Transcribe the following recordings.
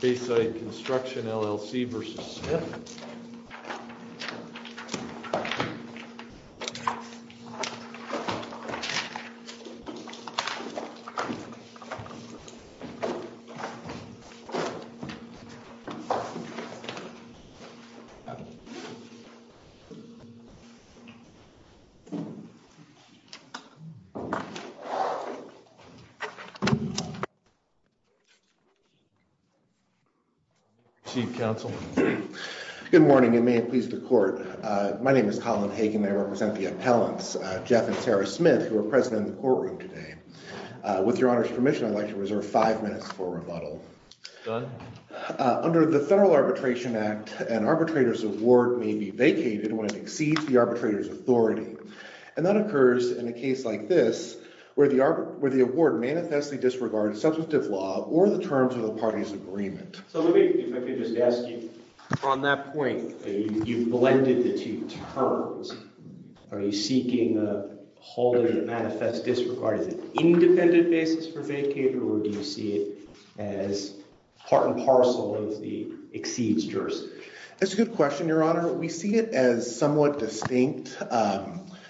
Bayside Construction LLC v. Smith Chief Counsel. Good morning and may it please the court. My name is Colin Hagen. I represent the appellants, Jeff and Sarah Smith, who are present in the courtroom today. With your honor's permission, I'd like to reserve five minutes for rebuttal. Under the Federal Arbitration Act, an arbitrator's award may be vacated when it exceeds the arbitrator's authority. And that occurs in a case like this, where the award manifestly disregards substantive law or the terms of the party's agreement. So if I could just ask you, on that point, you've blended the two terms. Are you seeking a holding that manifests disregard as an independent basis for vacating, or do you see it as part and parcel as the exceeds jurisdiction? That's a good question, your honor. We see it as somewhat distinct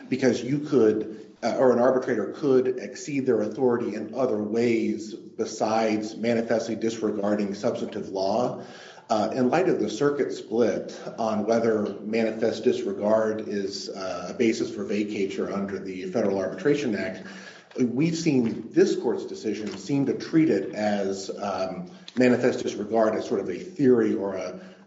because you could or an arbitrator could exceed their authority in other ways besides manifestly disregarding substantive law. In light of the circuit split on whether manifest disregard is a basis for vacature under the Federal Arbitration Act, we've seen this court's decision seem to treat it as manifest disregard as sort of a theory or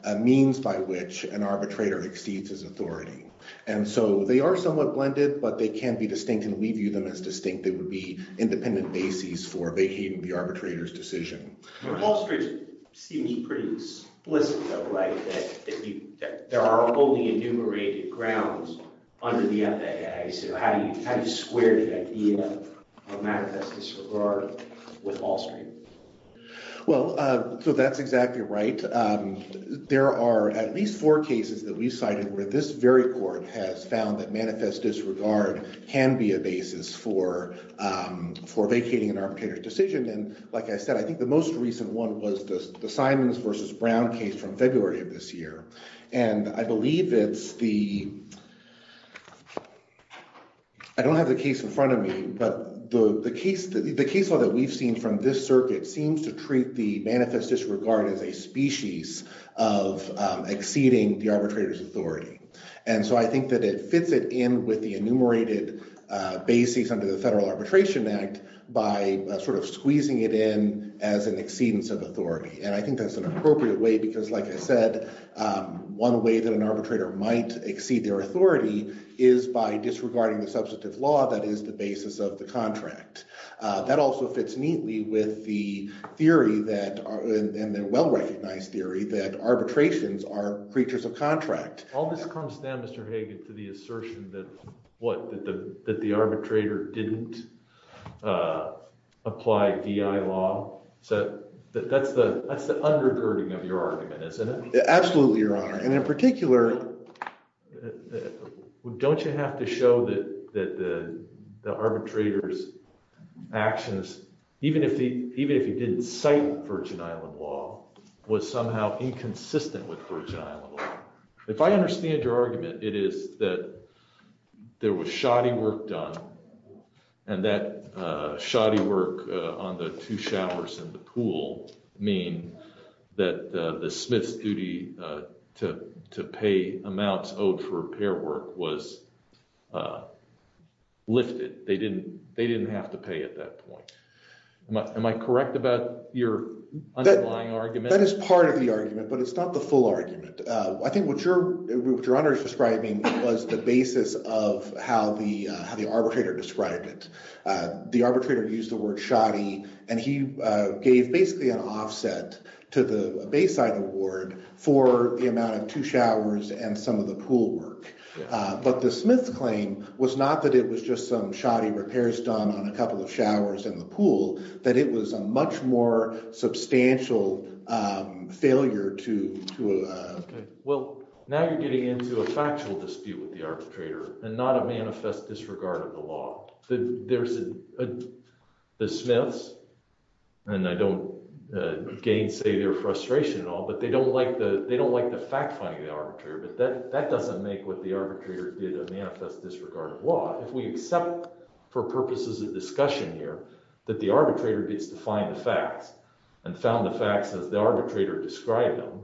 a means by which an arbitrator exceeds his authority. And so they are somewhat blended, but they can be distinct, and we view them as distinct. They would be independent basis for vacating the arbitrator's decision. Wall Street seems pretty explicit, though, right, that there are only enumerated grounds under the FAA. So how do you square the idea of manifest disregard with Wall Street? Well, so that's exactly right. There are at least four cases that we cited where this very court has found that manifest disregard can be a basis for vacating an arbitrator's decision. And like I said, I think the most recent one was the Simons v. Brown case from February of this year. And I believe it's the – I don't have the case in front of me, but the case law that we've seen from this circuit seems to treat the manifest disregard as a species of exceeding the arbitrator's authority. And so I think that it fits it in with the enumerated basis under the Federal Arbitration Act by sort of squeezing it in as an exceedance of authority. And I think that's an appropriate way because, like I said, one way that an arbitrator might exceed their authority is by disregarding the substantive law that is the basis of the contract. That also fits neatly with the theory that – and the well-recognized theory that arbitrations are creatures of contract. All this comes down, Mr. Hagan, to the assertion that what? That the arbitrator didn't apply DI law. So that's the undergirding of your argument, isn't it? Absolutely, Your Honor. And in particular – Don't you have to show that the arbitrator's actions, even if he didn't cite Virgin Island law, was somehow inconsistent with Virgin Island law? If I understand your argument, it is that there was shoddy work done, and that shoddy work on the two showers and the pool mean that the smith's duty to pay amounts owed for repair work was lifted. They didn't have to pay at that point. Am I correct about your underlying argument? That is part of the argument, but it's not the full argument. I think what Your Honor is describing was the basis of how the arbitrator described it. The arbitrator used the word shoddy, and he gave basically an offset to the Bayside award for the amount of two showers and some of the pool work. But the smith's claim was not that it was just some shoddy repairs done on a couple of showers and the pool, that it was a much more substantial failure to – Well, now you're getting into a factual dispute with the arbitrator and not a manifest disregard of the law. There's the smiths, and I don't gainsay their frustration at all, but they don't like the fact-finding of the arbitrator, but that doesn't make what the arbitrator did a manifest disregard of law. If we accept for purposes of discussion here that the arbitrator gets to find the facts and found the facts as the arbitrator described them,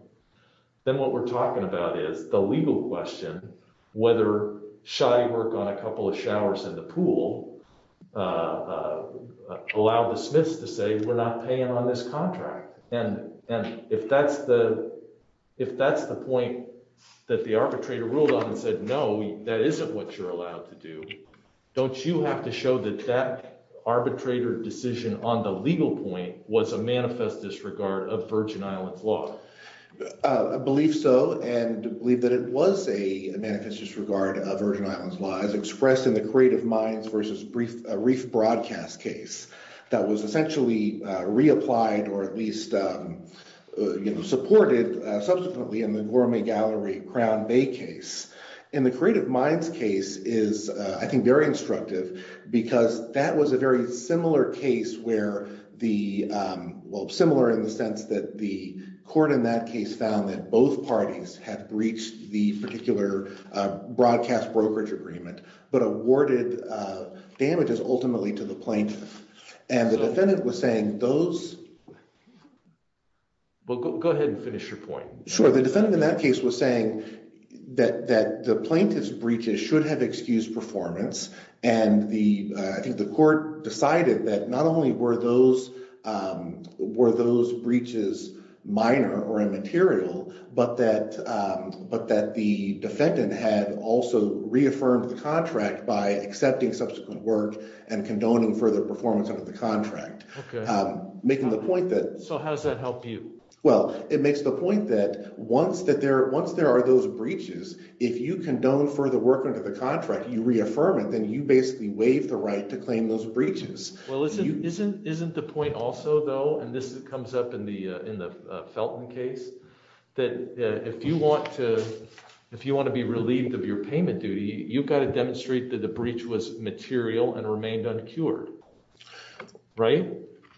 then what we're talking about is the legal question whether shoddy work on a couple of showers and the pool allowed the smiths to say we're not paying on this contract. And if that's the point that the arbitrator ruled on and said no, that isn't what you're allowed to do, don't you have to show that that arbitrator decision on the legal point was a manifest disregard of Virgin Islands law? I believe so, and believe that it was a manifest disregard of Virgin Islands law as expressed in the Creative Minds v. Reef Broadcast case that was essentially reapplied or at least supported subsequently in the Gourmet Gallery Crown Bay case. In the Creative Minds case is, I think, very instructive because that was a very similar case where the – well, similar in the sense that the court in that case found that both parties had breached the particular broadcast brokerage agreement but awarded damages ultimately to the plaintiff. And the defendant was saying those… Well, go ahead and finish your point. Sure. The defendant in that case was saying that the plaintiff's breaches should have excused performance, and I think the court decided that not only were those breaches minor or immaterial but that the defendant had also reaffirmed the contract by accepting subsequent work and condoning further performance under the contract. Okay. Making the point that… So how does that help you? Well, it makes the point that once there are those breaches, if you condone further work under the contract, you reaffirm it, then you basically waive the right to claim those breaches. Well, isn't the point also, though – and this comes up in the Felton case – that if you want to be relieved of your payment duty, you've got to demonstrate that the breach was material and remained uncured, right?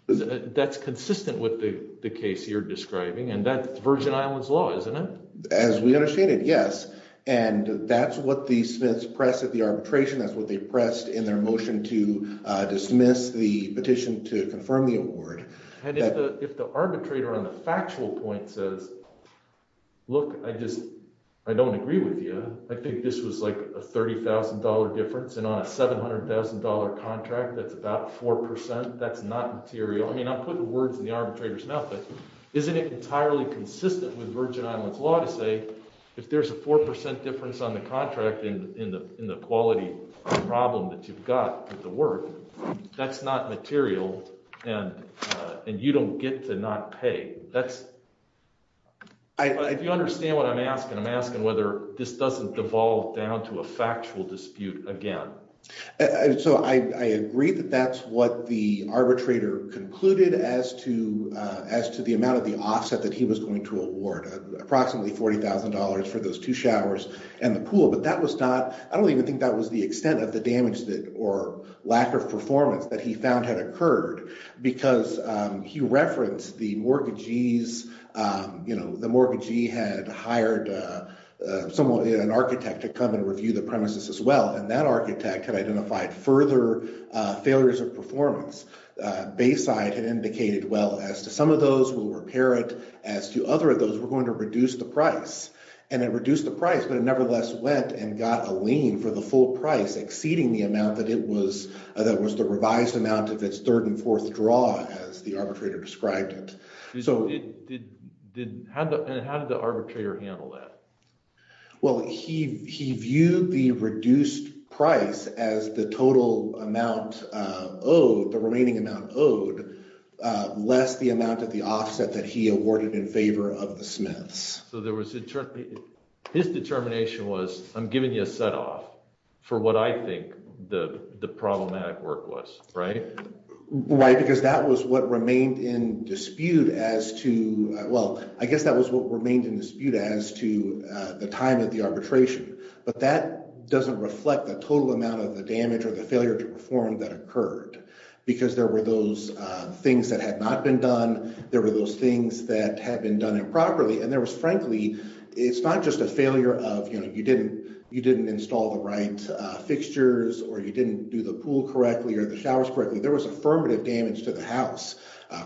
That's consistent with the case you're describing, and that's Virgin Islands law, isn't it? As we understand it, yes. And that's what the Smiths pressed at the arbitration. That's what they pressed in their motion to dismiss the petition to confirm the award. And if the arbitrator on the factual point says, look, I just – I don't agree with you. I think this was like a $30,000 difference, and on a $700,000 contract that's about 4%, that's not material. I mean I'm putting words in the arbitrator's mouth, but isn't it entirely consistent with Virgin Islands law to say if there's a 4% difference on the contract in the quality problem that you've got with the work, that's not material and you don't get to not pay? That's – if you understand what I'm asking, I'm asking whether this doesn't devolve down to a factual dispute again. So I agree that that's what the arbitrator concluded as to the amount of the offset that he was going to award, approximately $40,000 for those two showers and the pool. But that was not – I don't even think that was the extent of the damage or lack of performance that he found had occurred because he referenced the mortgagee's – the mortgagee had hired someone, an architect, to come and review the premises as well, and that architect had identified further failures of performance. Bayside had indicated, well, as to some of those, we'll repair it. As to other of those, we're going to reduce the price. And it reduced the price, but it nevertheless went and got a lien for the full price exceeding the amount that it was – that was the revised amount of its third and fourth draw as the arbitrator described it. So – And how did the arbitrator handle that? Well, he viewed the reduced price as the total amount owed, the remaining amount owed, less the amount of the offset that he awarded in favor of the Smiths. So there was – his determination was I'm giving you a set-off for what I think the problematic work was, right? Why? Because that was what remained in dispute as to – well, I guess that was what remained in dispute as to the time of the arbitration. But that doesn't reflect the total amount of the damage or the failure to perform that occurred because there were those things that had not been done. There were those things that had been done improperly, and there was frankly – it's not just a failure of you didn't install the right fixtures or you didn't do the pool correctly or the showers correctly. There was affirmative damage to the house,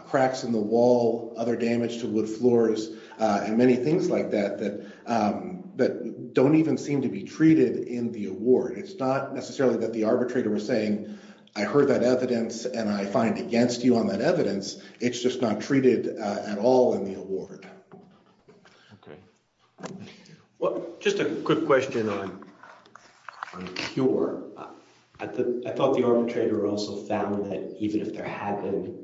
cracks in the wall, other damage to wood floors, and many things like that that don't even seem to be treated in the award. It's not necessarily that the arbitrator was saying I heard that evidence and I find against you on that evidence. It's just not treated at all in the award. Okay. Well, just a quick question on the cure. I thought the arbitrator also found that even if there had been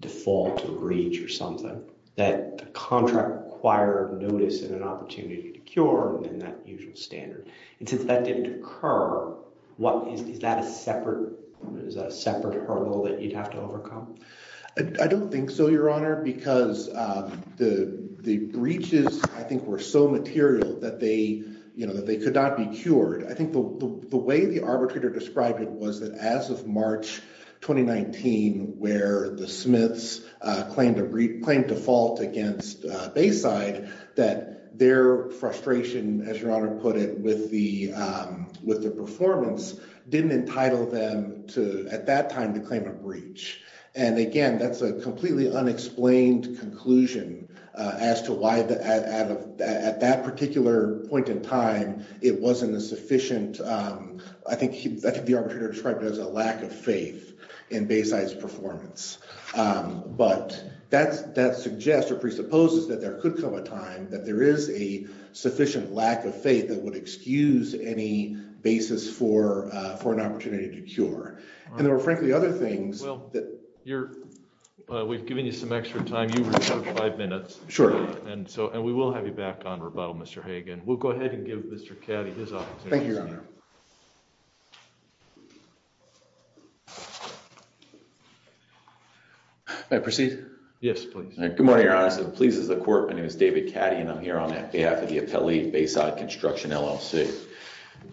default to breach or something, that the contract required notice and an opportunity to cure and then that usual standard. And since that didn't occur, what – is that a separate hurdle that you'd have to overcome? I don't think so, Your Honor, because the breaches I think were so material that they could not be cured. I think the way the arbitrator described it was that as of March 2019 where the Smiths claimed default against Bayside, that their frustration, as Your Honor put it, with the performance didn't entitle them to – at that time to claim a breach. And again, that's a completely unexplained conclusion as to why at that particular point in time it wasn't a sufficient – I think the arbitrator described it as a lack of faith in Bayside's performance. But that suggests or presupposes that there could come a time that there is a sufficient lack of faith that would excuse any basis for an opportunity to cure. And there were frankly other things that – Well, you're – we've given you some extra time. You reserved five minutes. Sure. And so – and we will have you back on rebuttal, Mr. Hagan. We'll go ahead and give Mr. Caddy his opportunity to speak. Thank you, Your Honor. May I proceed? Yes, please. Good morning, Your Honor. To the pleas of the court, my name is David Caddy and I'm here on behalf of the appellee Bayside Construction LLC.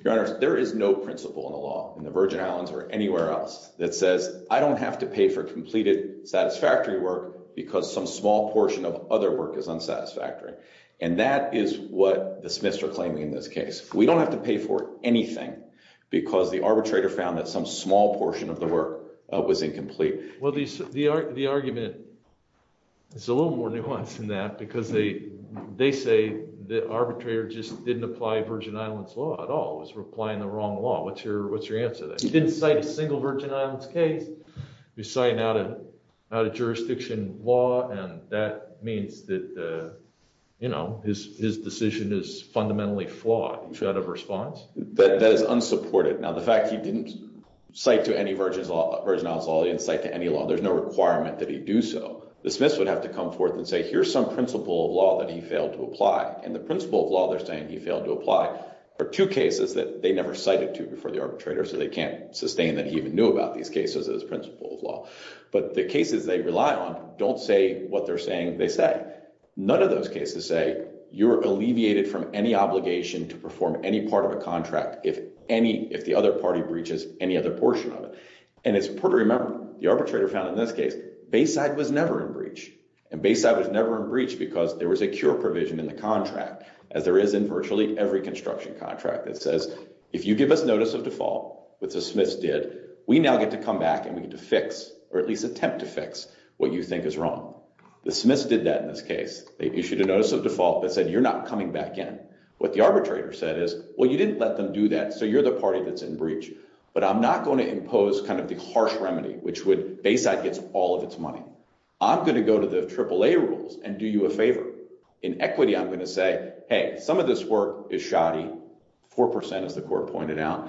Your Honor, there is no principle in the law in the Virgin Islands or anywhere else that says I don't have to pay for completed satisfactory work because some small portion of other work is unsatisfactory. And that is what the Smiths are claiming in this case. We don't have to pay for anything because the arbitrator found that some small portion of the work was incomplete. Well, the argument is a little more nuanced than that because they say the arbitrator just didn't apply Virgin Islands law at all. He was applying the wrong law. What's your answer to that? He didn't cite a single Virgin Islands case. He was citing out-of-jurisdiction law, and that means that his decision is fundamentally flawed. Do you have a response? That is unsupported. Now, the fact he didn't cite to any Virgin Islands law, he didn't cite to any law, there's no requirement that he do so. The Smiths would have to come forth and say, here's some principle of law that he failed to apply. And the principle of law they're saying he failed to apply are two cases that they never cited to before the arbitrator, so they can't sustain that he even knew about these cases as principle of law. But the cases they rely on don't say what they're saying they say. None of those cases say you're alleviated from any obligation to perform any part of a contract if the other party breaches any other portion of it. And it's important to remember, the arbitrator found in this case, Bayside was never in breach. And Bayside was never in breach because there was a cure provision in the contract, as there is in virtually every construction contract that says, if you give us notice of default, which the Smiths did, we now get to come back and we get to fix, or at least attempt to fix, what you think is wrong. The Smiths did that in this case. They issued a notice of default that said, you're not coming back in. What the arbitrator said is, well, you didn't let them do that, so you're the party that's in breach. But I'm not going to impose kind of the harsh remedy, which would, Bayside gets all of its money. I'm going to go to the AAA rules and do you a favor. In equity, I'm going to say, hey, some of this work is shoddy, 4%, as the court pointed out.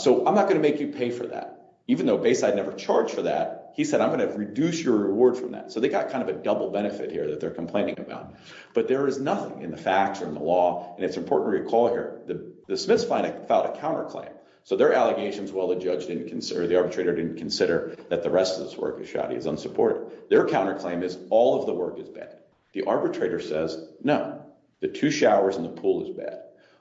So I'm not going to make you pay for that. Even though Bayside never charged for that, he said, I'm going to reduce your reward from that. So they got kind of a double benefit here that they're complaining about. But there is nothing in the facts or in the law, and it's important to recall here, the Smiths filed a counterclaim. So their allegations, well, the judge didn't consider, the arbitrator didn't consider that the rest of this work is shoddy, is unsupported. Their counterclaim is all of the work is bad. The arbitrator says, no, the two showers and the pool is bad.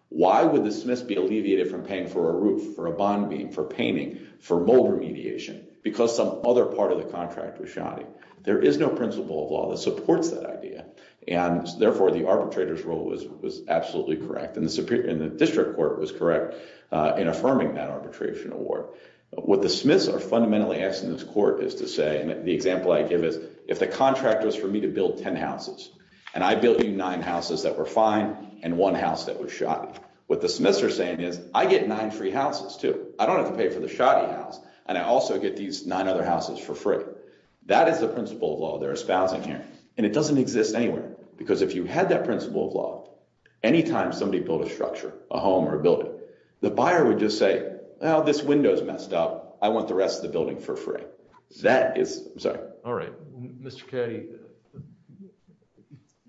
Why would the Smiths be alleviated from paying for a roof, for a bond beam, for painting, for mold remediation? Because some other part of the contract was shoddy. There is no principle of law that supports that idea. And therefore, the arbitrator's rule was absolutely correct, and the district court was correct in affirming that arbitration award. What the Smiths are fundamentally asking this court is to say, and the example I give is, if the contract was for me to build 10 houses, and I built you nine houses that were fine and one house that was shoddy, what the Smiths are saying is, I get nine free houses, too. I don't have to pay for the shoddy house, and I also get these nine other houses for free. That is the principle of law they're espousing here, and it doesn't exist anywhere. Because if you had that principle of law, anytime somebody built a structure, a home or a building, the buyer would just say, well, this window's messed up. I want the rest of the building for free. That is, I'm sorry. All right. Mr. Catty,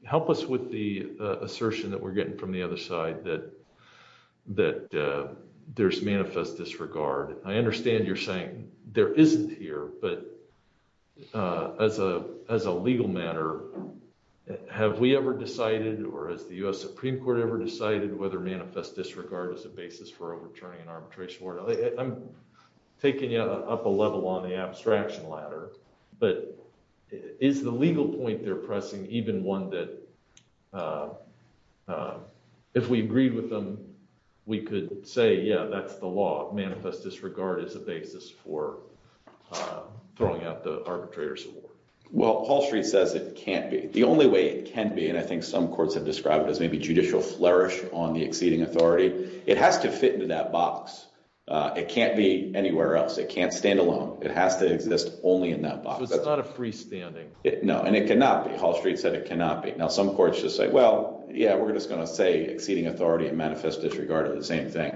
help us with the assertion that we're getting from the other side that there's manifest disregard. I understand you're saying there isn't here, but as a legal matter, have we ever decided or has the U.S. Supreme Court ever decided whether manifest disregard is a basis for overturning an arbitration order? I'm taking you up a level on the abstraction ladder, but is the legal point they're pressing even one that, if we agreed with them, we could say, yeah, that's the law. Manifest disregard is a basis for throwing out the arbitrator's award. Well, Wall Street says it can't be. The only way it can be, and I think some courts have described it as maybe judicial flourish on the exceeding authority, it has to fit into that box. It can't be anywhere else. It can't stand alone. It has to exist only in that box. So it's not a freestanding. No, and it cannot be. Wall Street said it cannot be. Now, some courts just say, well, yeah, we're just going to say exceeding authority and manifest disregard are the same thing,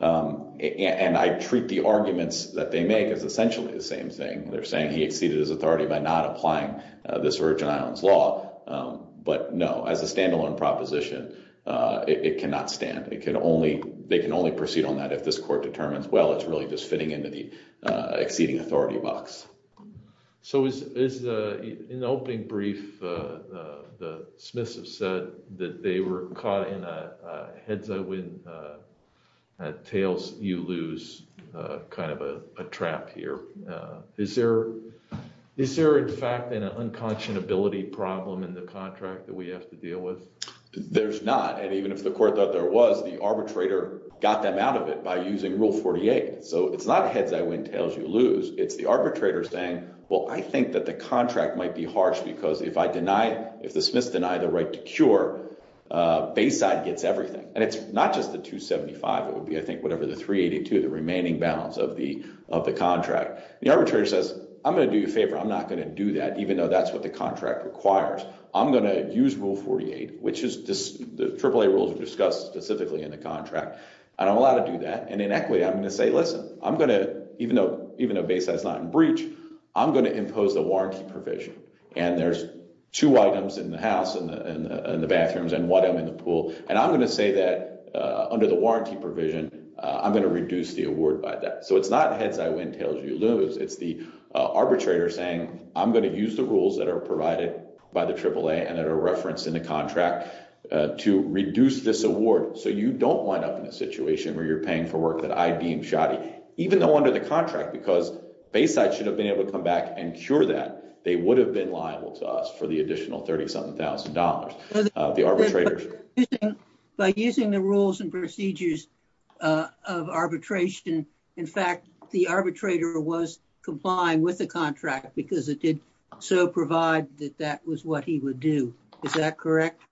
and I treat the arguments that they make as essentially the same thing. They're saying he exceeded his authority by not applying this Virgin Islands law, but no, as a standalone proposition, it cannot stand. They can only proceed on that if this court determines, well, it's really just fitting into the exceeding authority box. So in the opening brief, the Smiths have said that they were caught in a heads-I-win, tails-you-lose kind of a trap here. Is there, in fact, an unconscionability problem in the contract that we have to deal with? There's not. And even if the court thought there was, the arbitrator got them out of it by using Rule 48. So it's not heads-I-win, tails-you-lose. It's the arbitrator saying, well, I think that the contract might be harsh because if I deny, if the Smiths deny the right to cure, Bayside gets everything. And it's not just the 275. It would be, I think, whatever, the 382, the remaining balance of the contract. The arbitrator says, I'm going to do you a favor. I'm not going to do that, even though that's what the contract requires. I'm going to use Rule 48, which is the AAA rules discussed specifically in the contract, and I'm allowed to do that. And in equity, I'm going to say, listen, even though Bayside's not in breach, I'm going to impose the warranty provision. And there's two items in the house, in the bathrooms, and one item in the pool. And I'm going to say that under the warranty provision, I'm going to reduce the award by that. So it's not heads-I-win, tails-you-lose. It's the arbitrator saying, I'm going to use the rules that are provided by the AAA and that are referenced in the contract to reduce this award. So you don't wind up in a situation where you're paying for work that I deem shoddy, even though under the contract, because Bayside should have been able to come back and cure that, they would have been liable to us for the additional $37,000. The arbitrator— By using the rules and procedures of arbitration, in fact, the arbitrator was complying with the contract because it did so provide that that was what he would do. Is that correct?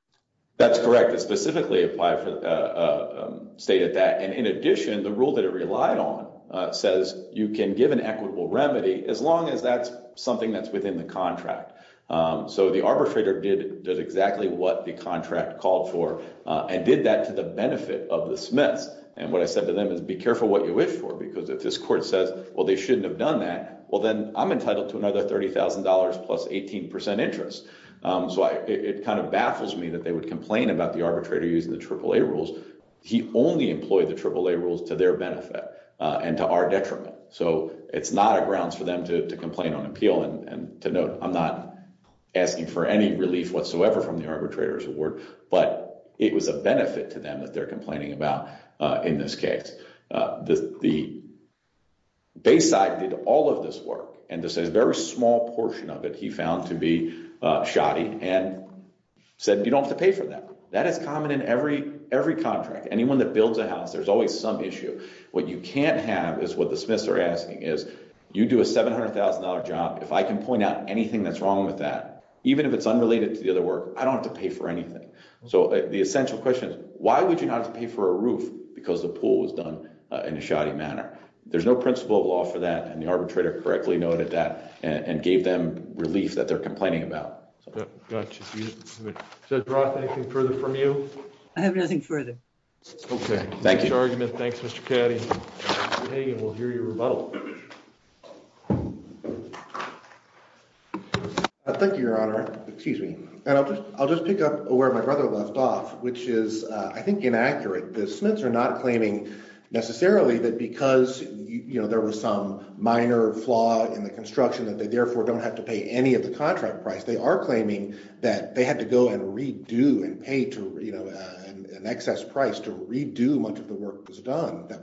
That's correct. It specifically stated that. And in addition, the rule that it relied on says you can give an equitable remedy as long as that's something that's within the contract. So the arbitrator did exactly what the contract called for and did that to the benefit of the Smiths. And what I said to them is, be careful what you wish for, because if this court says, well, they shouldn't have done that, well, then I'm entitled to another $30,000 plus 18% interest. So it kind of baffles me that they would complain about the arbitrator using the AAA rules. He only employed the AAA rules to their benefit and to our detriment. So it's not a grounds for them to complain on appeal. And to note, I'm not asking for any relief whatsoever from the arbitrator's award, but it was a benefit to them that they're complaining about in this case. The Bayside did all of this work, and this is a very small portion of it he found to be shoddy and said, you don't have to pay for that. That is common in every contract. Anyone that builds a house, there's always some issue. What you can't have is what the Smiths are asking is, you do a $700,000 job. If I can point out anything that's wrong with that, even if it's unrelated to the other work, I don't have to pay for anything. So the essential question is, why would you not have to pay for a roof because the pool was done in a shoddy manner? There's no principle of law for that, and the arbitrator correctly noted that and gave them relief that they're complaining about. Further from you. I have nothing further. Okay, thank you. Argument. Thanks, Mr. Caddy. We'll hear your rebuttal. Thank you, Your Honor. Excuse me, and I'll just I'll just pick up where my brother left off, which is, I think, inaccurate. The Smiths are not claiming necessarily that because, you know, there was some minor flaw in the construction that they therefore don't have to pay any of the contract price. They are claiming that they had to go and redo and pay to, you know, an excess price to redo much of the work that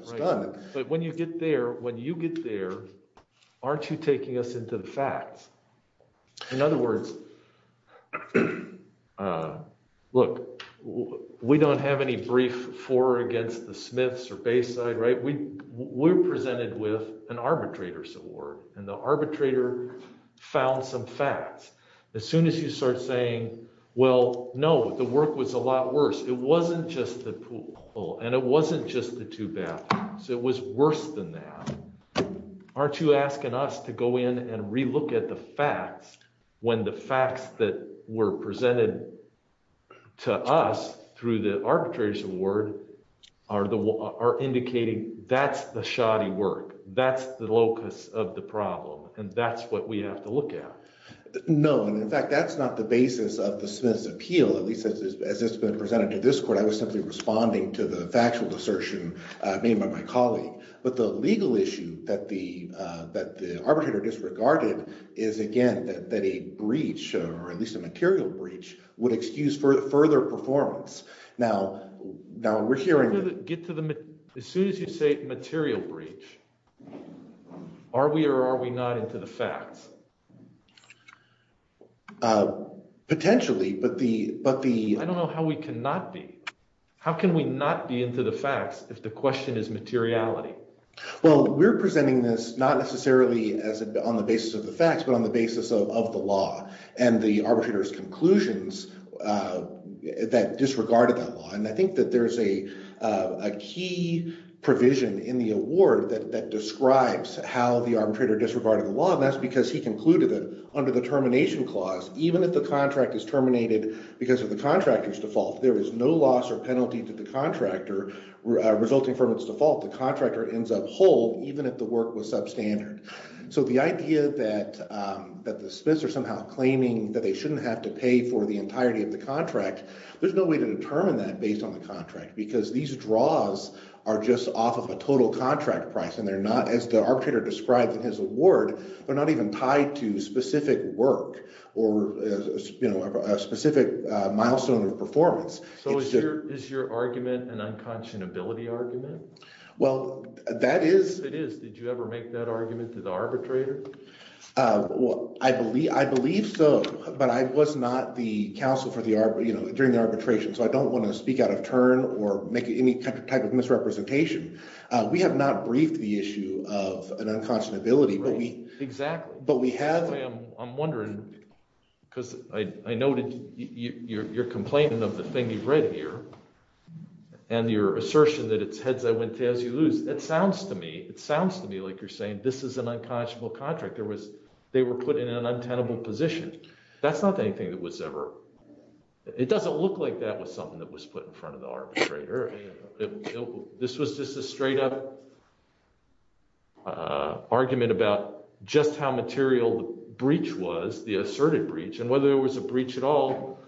was done. But when you get there, when you get there, aren't you taking us into the facts? In other words, look, we don't have any brief for or against the Smiths or Bayside, right? We were presented with an arbitrator's award and the arbitrator found some facts. As soon as you start saying, well, no, the work was a lot worse. It wasn't just the pool and it wasn't just the two baths. That's the shoddy work. That's the locus of the problem. And that's what we have to look at. No, in fact, that's not the basis of the Smith's appeal, at least as it's been presented to this court. I was simply responding to the factual assertion made by my colleague. But the legal issue that the that the arbitrator disregarded is, again, that a breach or at least a material breach would excuse for further performance. Now, now we're hearing get to them as soon as you say material breach. Are we or are we not into the facts? Potentially, but the but the I don't know how we cannot be. How can we not be into the facts if the question is materiality? Well, we're presenting this not necessarily as on the basis of the facts, but on the basis of the law and the arbitrator's conclusions that disregarded that law. And I think that there is a key provision in the award that describes how the arbitrator disregarded the law. And that's because he concluded that under the termination clause, even if the contract is terminated because of the contractor's default, there is no loss or penalty to the contractor resulting from its default. The contractor ends up whole even if the work was substandard. So the idea that that the Smiths are somehow claiming that they shouldn't have to pay for the entirety of the contract. There's no way to determine that based on the contract, because these draws are just off of a total contract price. And they're not as the arbitrator described in his award. They're not even tied to specific work or a specific milestone of performance. So is your argument an unconscionability argument? Well, that is. It is. Did you ever make that argument to the arbitrator? I believe so, but I was not the counsel during the arbitration, so I don't want to speak out of turn or make any type of misrepresentation. We have not briefed the issue of an unconscionability. Exactly. I'm wondering, because I noted your complaint of the thing you've read here, and your assertion that it's heads I went to as you lose. It sounds to me, it sounds to me like you're saying this is an unconscionable contract. They were put in an untenable position. That's not anything that was ever. It doesn't look like that was something that was put in front of the arbitrator. This was just a straight up. Argument about just how material the breach was the asserted breach and whether there was a breach at all.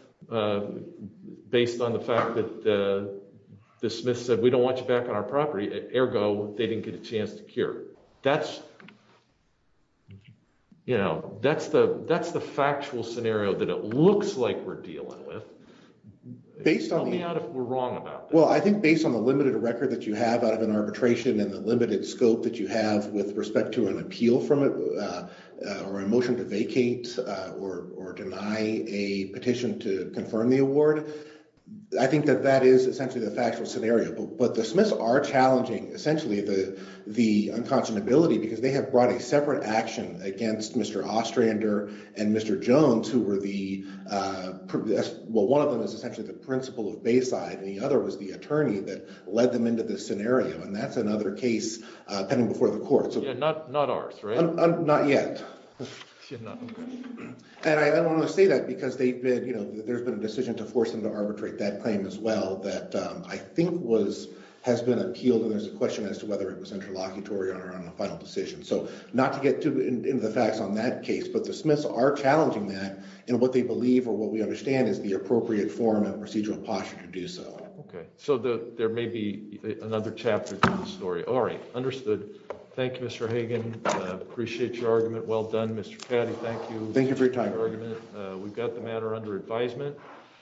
Based on the fact that the Smith said we don't want you back on our property, ergo, they didn't get a chance to cure. That's. You know, that's the that's the factual scenario that it looks like we're dealing with. Based on the wrong about. Well, I think based on the limited record that you have out of an arbitration and the limited scope that you have with respect to an appeal from it, or a motion to vacate or or deny a petition to confirm the award. I think that that is essentially the factual scenario. But the Smiths are challenging essentially the the unconscionability because they have brought a separate action against Mr. Ostrander and Mr. Jones, who were the well, one of them is essentially the principal of Bayside. And the other was the attorney that led them into this scenario. And that's another case pending before the court. So not not ours. Not yet. And I don't want to say that because they've been you know, there's been a decision to force them to arbitrate that claim as well that I think was has been appealed. And there's a question as to whether it was interlocutory or on a final decision. So not to get too into the facts on that case. But the Smiths are challenging that and what they believe or what we understand is the appropriate form of procedural posture to do so. Okay, so there may be another chapter story. All right. Understood. Thank you, Mr. Hagan. Appreciate your argument. Well done, Mr. Thank you. Thank you for your time. We've got the matter under advisement.